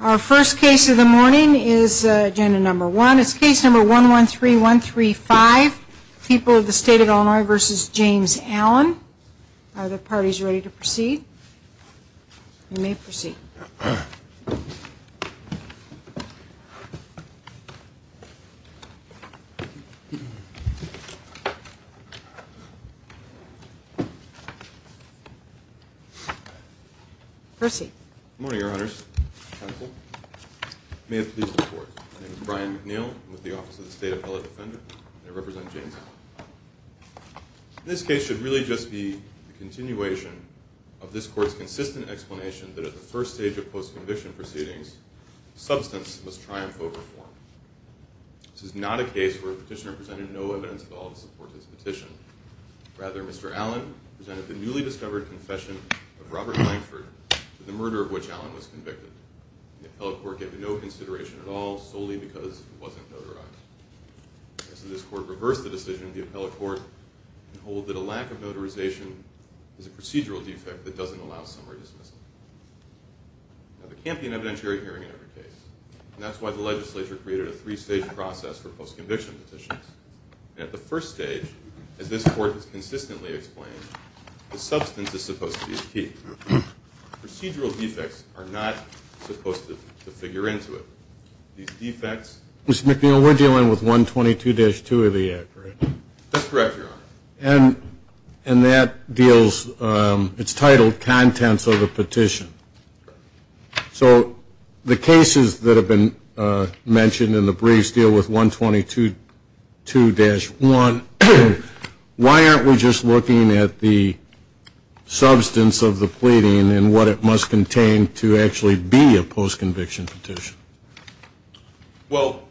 Our first case of the morning is agenda number one. It's case number 113135, People of the State of Illinois v. James Allen. Are the parties ready to proceed? You may proceed. Good morning, Your Honors. May it please the Court. My name is Brian McNeil. I'm with the Office of the State Appellate Defender, and I represent James Allen. This case should really just be a continuation of this Court's consistent explanation that at the first stage of post-conviction proceedings, substance must triumph over form. This is not a case where a petitioner presented no evidence at all to support his petition. Rather, Mr. Allen presented the newly discovered confession of Robert Blankford to the murder of which Allen was convicted. The appellate court gave no consideration at all, solely because he wasn't notarized. As this Court reversed the decision, the appellate court can hold that a lack of notarization is a procedural defect that doesn't allow summary dismissal. Now, there can't be an evidentiary hearing in every case, and that's why the legislature created a three-stage process for post-conviction petitions. And at the first stage, as this Court has consistently explained, the substance is supposed to be the key. Procedural defects are not supposed to figure into it. These defects... Mr. McNeil, we're dealing with 122-2 of the Act, right? That's correct, Your Honor. And that deals... it's titled Contents of the Petition. So the cases that have been mentioned in the briefs deal with 122-2-1. Why aren't we just looking at the substance of the pleading and what it must contain to actually be a post-conviction petition? Well,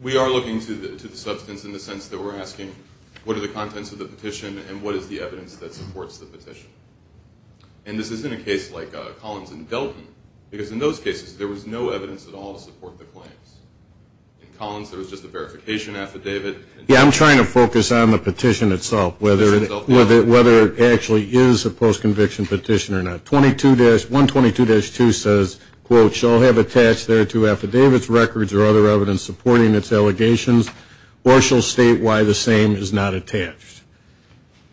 we are looking to the substance in the sense that we're asking, what are the contents of the petition and what is the evidence that supports the petition? And this isn't a case like Collins and Delton, because in those cases, there was no evidence at all to support the claims. In Collins, there was just a verification affidavit. Yeah, I'm trying to focus on the petition itself, whether it actually is a post-conviction petition or not. 122-2 says, quote, shall have attached thereto affidavits, records, or other evidence supporting its allegations, or shall state why the same is not attached.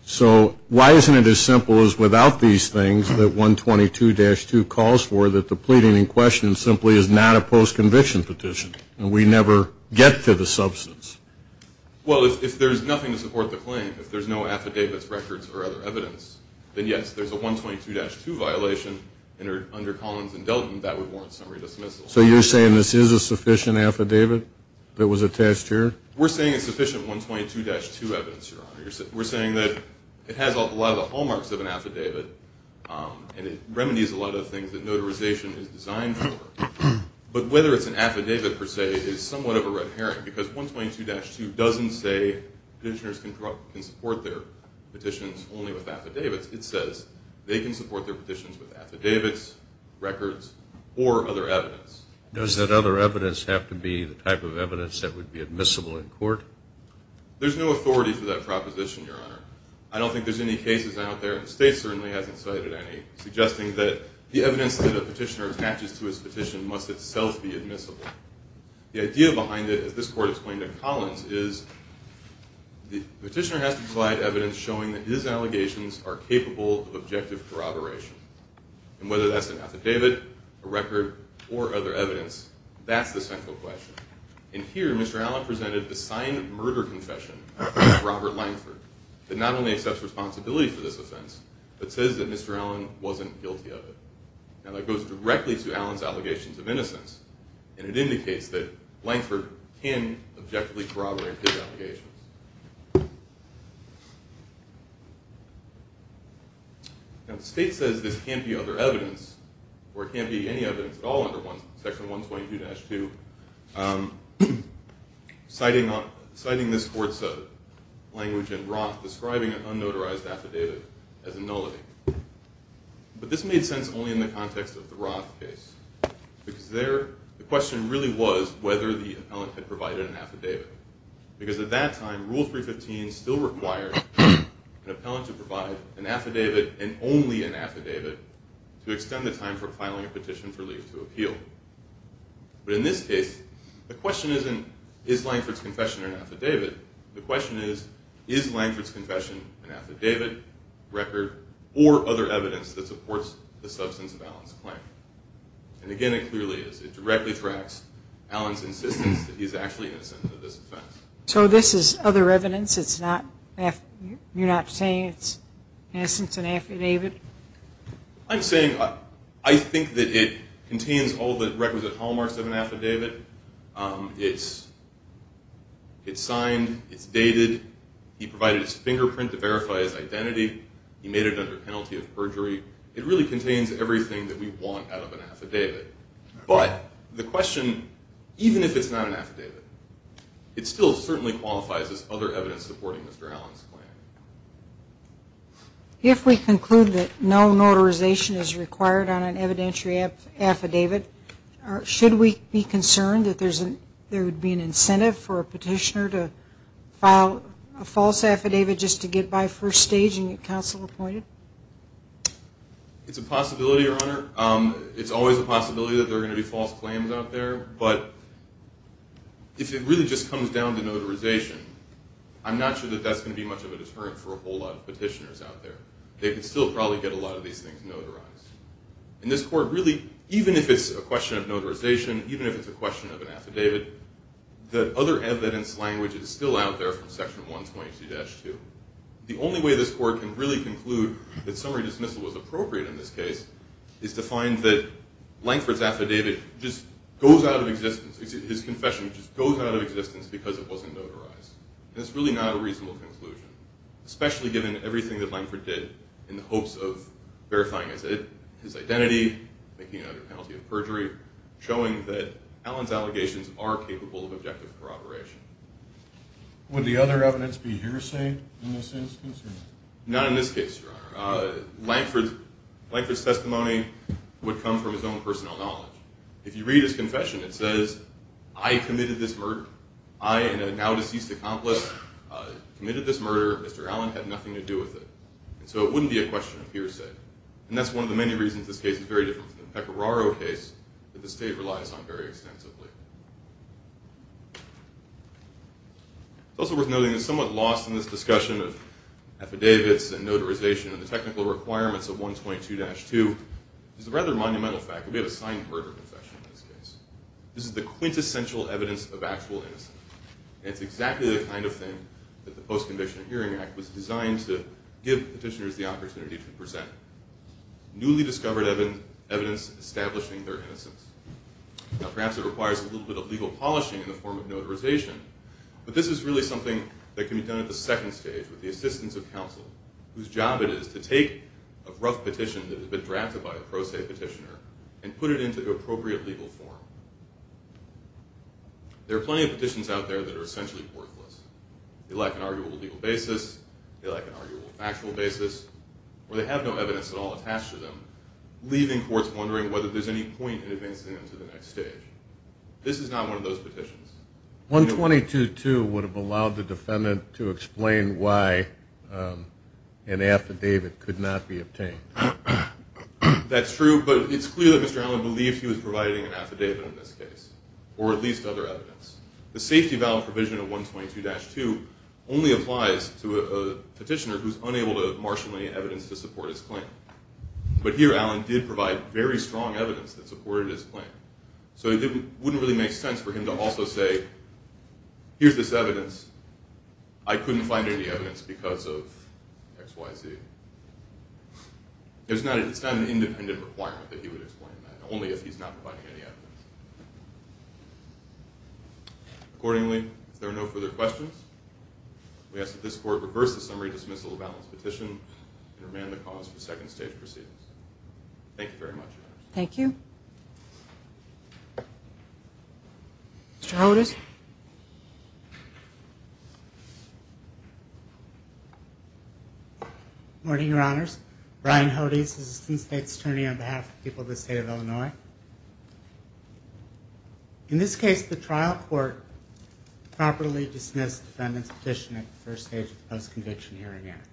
So why isn't it as simple as without these things that 122-2 calls for that the pleading in question simply is not a post-conviction petition and we never get to the substance? Well, if there's nothing to support the claim, if there's no affidavits, records, or other evidence, then yes, there's a 122-2 violation under Collins and Delton that would warrant summary dismissal. So you're saying this is a sufficient affidavit that was attached here? We're saying it's sufficient 122-2 evidence, Your Honor. We're saying that it has a lot of the hallmarks of an affidavit and it remedies a lot of the things that notarization is designed for. But whether it's an affidavit, per se, is somewhat of a red herring, because 122-2 doesn't say petitioners can support their petitions only with affidavits. It says they can support their petitions with affidavits, records, or other evidence. Does that other evidence have to be the type of evidence that would be admissible in court? There's no authority for that proposition, Your Honor. I don't think there's any cases out there, and the state certainly hasn't cited any, suggesting that the evidence that a petitioner attaches to his petition must itself be admissible. The idea behind it, as this court explained to Collins, is the petitioner has to provide evidence showing that his allegations are capable of objective corroboration. And whether that's an affidavit, a record, or other evidence, that's the central question. And here, Mr. Allen presented the signed murder confession of Robert Langford, that not only accepts responsibility for this offense, but says that Mr. Allen wasn't guilty of it. Now, that goes directly to Allen's allegations of innocence, and it indicates that Langford can objectively corroborate his allegations. Now, the state says this can't be other evidence, or it can't be any evidence at all under Section 122-2, citing this court's language in Roth describing an unnotarized affidavit as a nullity. But this made sense only in the context of the Roth case, because there, the question really was whether the appellant had provided an affidavit. Because at that time, Rule 315 still required an appellant to provide an affidavit, and only an affidavit, to extend the time for filing a petition for leave to appeal. But in this case, the question isn't, is Langford's confession an affidavit? The question is, is Langford's confession an affidavit, record, or other evidence that supports the substance of Allen's claim? And again, it clearly is. It directly tracks Allen's insistence that he's actually innocent of this offense. So this is other evidence? It's not, you're not saying it's, in essence, an affidavit? I'm saying, I think that it contains all the requisite hallmarks of an affidavit. It's signed. It's dated. He provided his fingerprint to verify his identity. He made it under penalty of perjury. It really contains everything that we want out of an affidavit. But the question, even if it's not an affidavit, it still certainly qualifies as other evidence supporting Mr. Allen's claim. If we conclude that no notarization is required on an evidentiary affidavit, should we be concerned that there would be an incentive for a petitioner to file a false affidavit just to get by first stage and get counsel appointed? It's a possibility, Your Honor. It's always a possibility that there are going to be false claims out there. But if it really just comes down to notarization, I'm not sure that that's going to be much of a deterrent for a whole lot of petitioners out there. They could still probably get a lot of these things notarized. In this court, really, even if it's a question of notarization, even if it's a question of an affidavit, the other evidence language is still out there from Section 122-2. The only way this court can really conclude that summary dismissal was appropriate in this case is to find that Lankford's affidavit just goes out of existence. His confession just goes out of existence because it wasn't notarized. That's really not a reasonable conclusion, especially given everything that Lankford did in the hopes of verifying his identity. Making another penalty of perjury. Showing that Allen's allegations are capable of objective corroboration. Would the other evidence be hearsay in this instance? Not in this case, Your Honor. Lankford's testimony would come from his own personal knowledge. If you read his confession, it says, I committed this murder. I and a now deceased accomplice committed this murder. Mr. Allen had nothing to do with it. So it wouldn't be a question of hearsay. And that's one of the many reasons this case is very different from the Pecoraro case that the state relies on very extensively. It's also worth noting that somewhat lost in this discussion of affidavits and notarization and the technical requirements of 122-2 is a rather monumental fact that we have a signed murder confession in this case. This is the quintessential evidence of actual innocence. And it's exactly the kind of thing that the Post-Conviction and Hearing Act was designed to give petitioners the opportunity to present. Newly discovered evidence establishing their innocence. Now perhaps it requires a little bit of legal polishing in the form of notarization, but this is really something that can be done at the second stage with the assistance of counsel, whose job it is to take a rough petition that had been drafted by a pro se petitioner and put it into the appropriate legal form. There are plenty of petitions out there that are essentially worthless. They lack an arguable legal basis, they lack an arguable factual basis, or they have no evidence at all attached to them, leaving courts wondering whether there's any point in advancing them to the next stage. This is not one of those petitions. 122-2 would have allowed the defendant to explain why an affidavit could not be obtained. That's true, but it's clear that Mr. Allen believed he was providing an affidavit in this case, or at least other evidence. The safety valid provision of 122-2 only applies to a petitioner who's unable to marshal any evidence to support his claim. But here Allen did provide very strong evidence that supported his claim. So it wouldn't really make sense for him to also say, here's this evidence, I couldn't find any evidence because of X, Y, Z. It's not an independent requirement that he would explain that, only if he's not providing any evidence. Accordingly, if there are no further questions, we ask that this Court reverse the summary dismissal of Allen's petition and remand the cause for second stage proceedings. Thank you very much, Your Honors. Thank you. Mr. Hodes. Good morning, Your Honors. Ryan Hodes, Assistant State's Attorney on behalf of the people of the State of Illinois. In this case, the trial court properly dismissed the defendant's petition at the first stage of the Post-Conviction Hearing Act.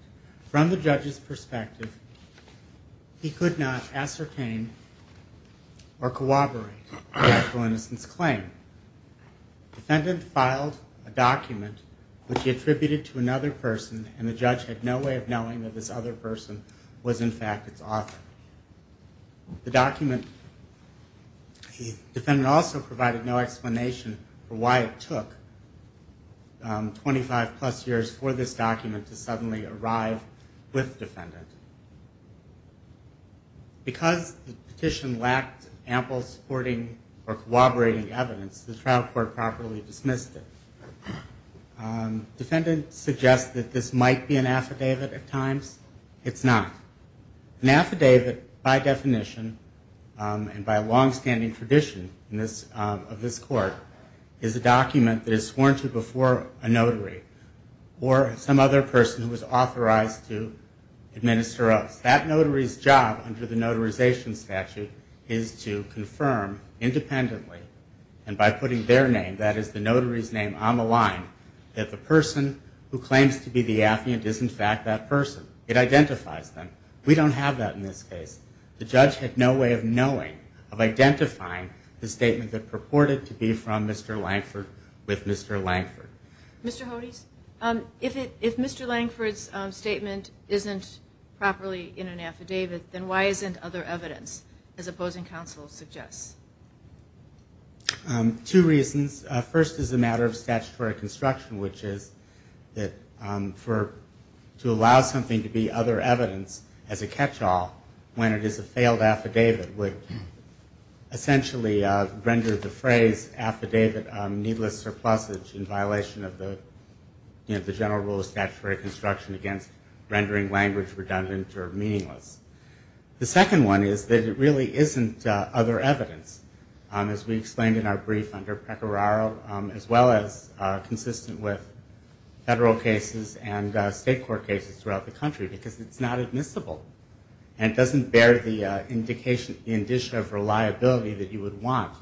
From the judge's perspective, he could not ascertain or corroborate the actual innocent's claim. The defendant filed a document which he attributed to another person, and the judge had no way of knowing that this other person was, in fact, its author. The defendant also provided no explanation for why it took 25 plus years for this document to suddenly arrive with the defendant. Because the petition lacked ample supporting or corroborating evidence, the trial court properly dismissed it. The defendant suggests that this might be an affidavit at times. It's not. An affidavit, by definition, and by a long-standing tradition of this Court, is a document that is sworn to before a notary or some other person who is authorized to administer oaths. That notary's job under the Notarization Statute is to confirm independently, and by putting their name, that is the notary's name, on the line, that the person who claims to be the affiant is, in fact, that person. It identifies them. We don't have that in this case. The judge had no way of knowing, of identifying, the statement that purported to be from Mr. Langford with Mr. Langford. Mr. Hodes, if Mr. Langford's statement isn't properly in an affidavit, then why isn't other evidence, as opposing counsel suggests? Two reasons. First is a matter of statutory construction, which is that to allow something to be other evidence as a catch-all when it is a failed affidavit would essentially render the phrase affidavit needless surplusage in violation of the general rule of statutory construction against rendering language redundant or meaningless. The second one is that it really isn't other evidence, as we explained in our brief under Precoraro, as well as consistent with federal cases and state court cases throughout the country, because it's not admissible, and it doesn't bear the indication of reliability that you would want,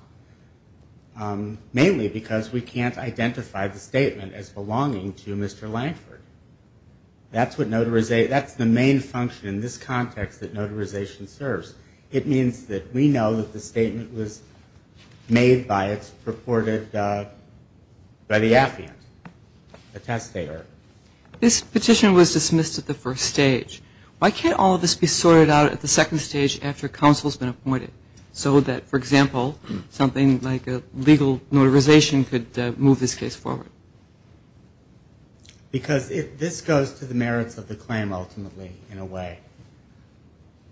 mainly because we can't identify the statement as belonging to Mr. Langford. That's the main function in this context that notarization serves. It means that we know that the statement was made by its purported, by the affiant, the testator. This petition was dismissed at the first stage. Why can't all of this be sorted out at the second stage after counsel's been appointed, so that, for example, something like a legal notarization could move this case forward? Because this goes to the merits of the claim, ultimately, in a way.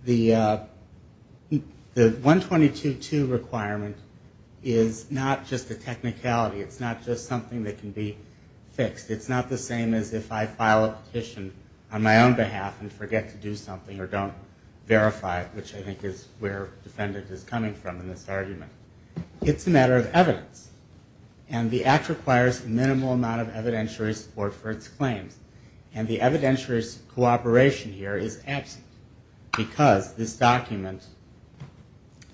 The 122-2 requirement is not just a technicality. It's not just something that can be fixed. It's not the same as if I file a petition on my own behalf and forget to do something or don't verify it, which I think is where defendant is coming from in this argument. It's a matter of evidence, and the Act requires a minimal amount of evidentiary support for its claims, and the evidentiary's cooperation here is absent because this document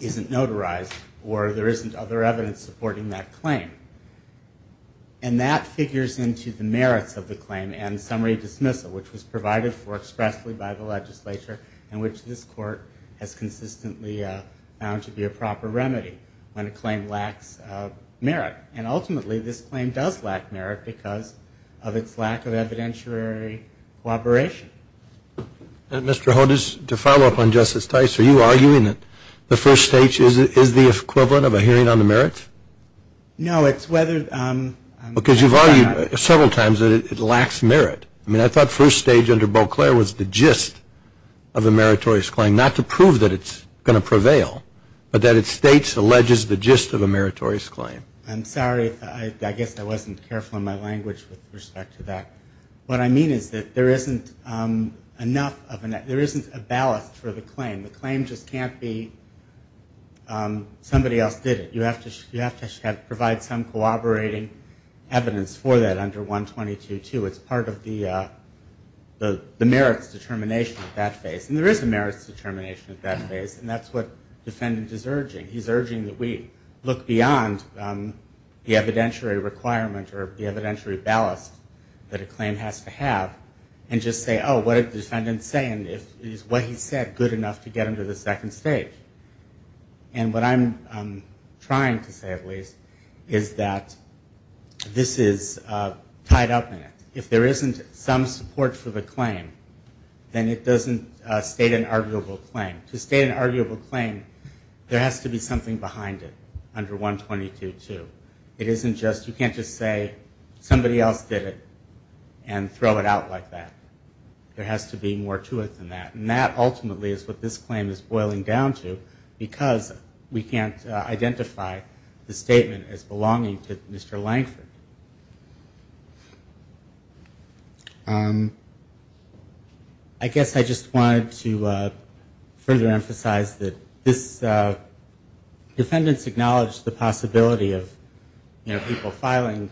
isn't notarized or there isn't other evidence supporting that claim. And that figures into the merits of the claim and summary dismissal, which was provided for expressly by the legislature and which this Court has consistently found to be a proper remedy when a claim lacks merit. And ultimately, this claim does lack merit because of its lack of evidentiary cooperation. And, Mr. Hodges, to follow up on Justice Tice, are you arguing that the first stage is the equivalent of a hearing on the merits? No, it's whether... Because you've argued several times that it lacks merit. I mean, I thought first stage under Beauclair was the gist of a meritorious claim, not to prove that it's going to prevail, but that it states, alleges the gist of a meritorious claim. I'm sorry. I guess I wasn't careful in my language with respect to that. What I mean is that there isn't enough of an... There isn't a ballast for the claim. The claim just can't be somebody else did it. You have to provide some cooperating evidence for that under 122-2. It's part of the merits determination at that phase. And there is a merits determination at that phase, and that's what the defendant is urging. He's urging that we look beyond the evidentiary requirement or the evidentiary ballast that a claim has to have and just say, oh, what did the defendant say? And is what he said good enough to get him to the second stage? And what I'm trying to say, at least, is that this is tied up in it. If there isn't some support for the claim, then it doesn't state an arguable claim. To state an arguable claim, there has to be something behind it under 122-2. It isn't just you can't just say somebody else did it and throw it out like that. There has to be more to it than that. And that ultimately is what this claim is boiling down to, because we can't identify the statement as belonging to Mr. Langford. I guess I just wanted to further emphasize that this defendant's acknowledged the possibility of, you know, people filing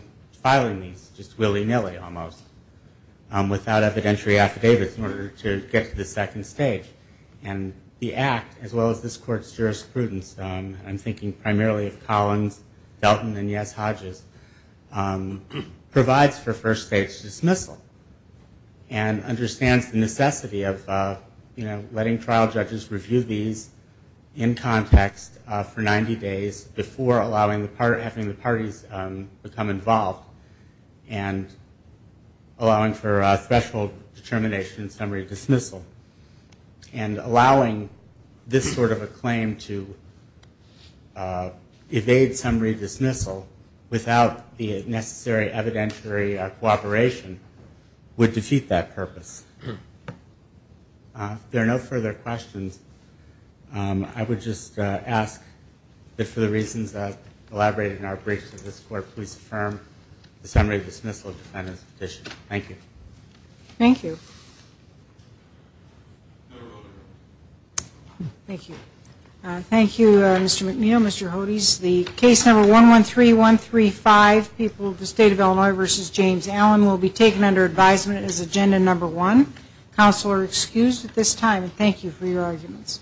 these just willy-nilly almost without evidentiary affidavits in order to get to the second stage. And the Act, as well as this Court's jurisprudence, I'm thinking primarily of Collins, Felton, and, yes, Hodges, provides for first-stage dismissal and understands the necessity of letting trial judges review these in context for 90 days before having the parties become involved and allowing for special determination and summary dismissal. And allowing this sort of a claim to evade summary dismissal without the necessary evidentiary cooperation would defeat that purpose. If there are no further questions, I would just ask that for the reasons elaborated in our briefs of this Court, please affirm the summary dismissal of the defendant's petition. Thank you. Thank you. Thank you. Thank you, Mr. McNeil, Mr. Hodges. The case number 113135, People of the State of Illinois v. James Allen, will be taken under advisement as agenda number one. Counsel are excused at this time. Thank you for your arguments.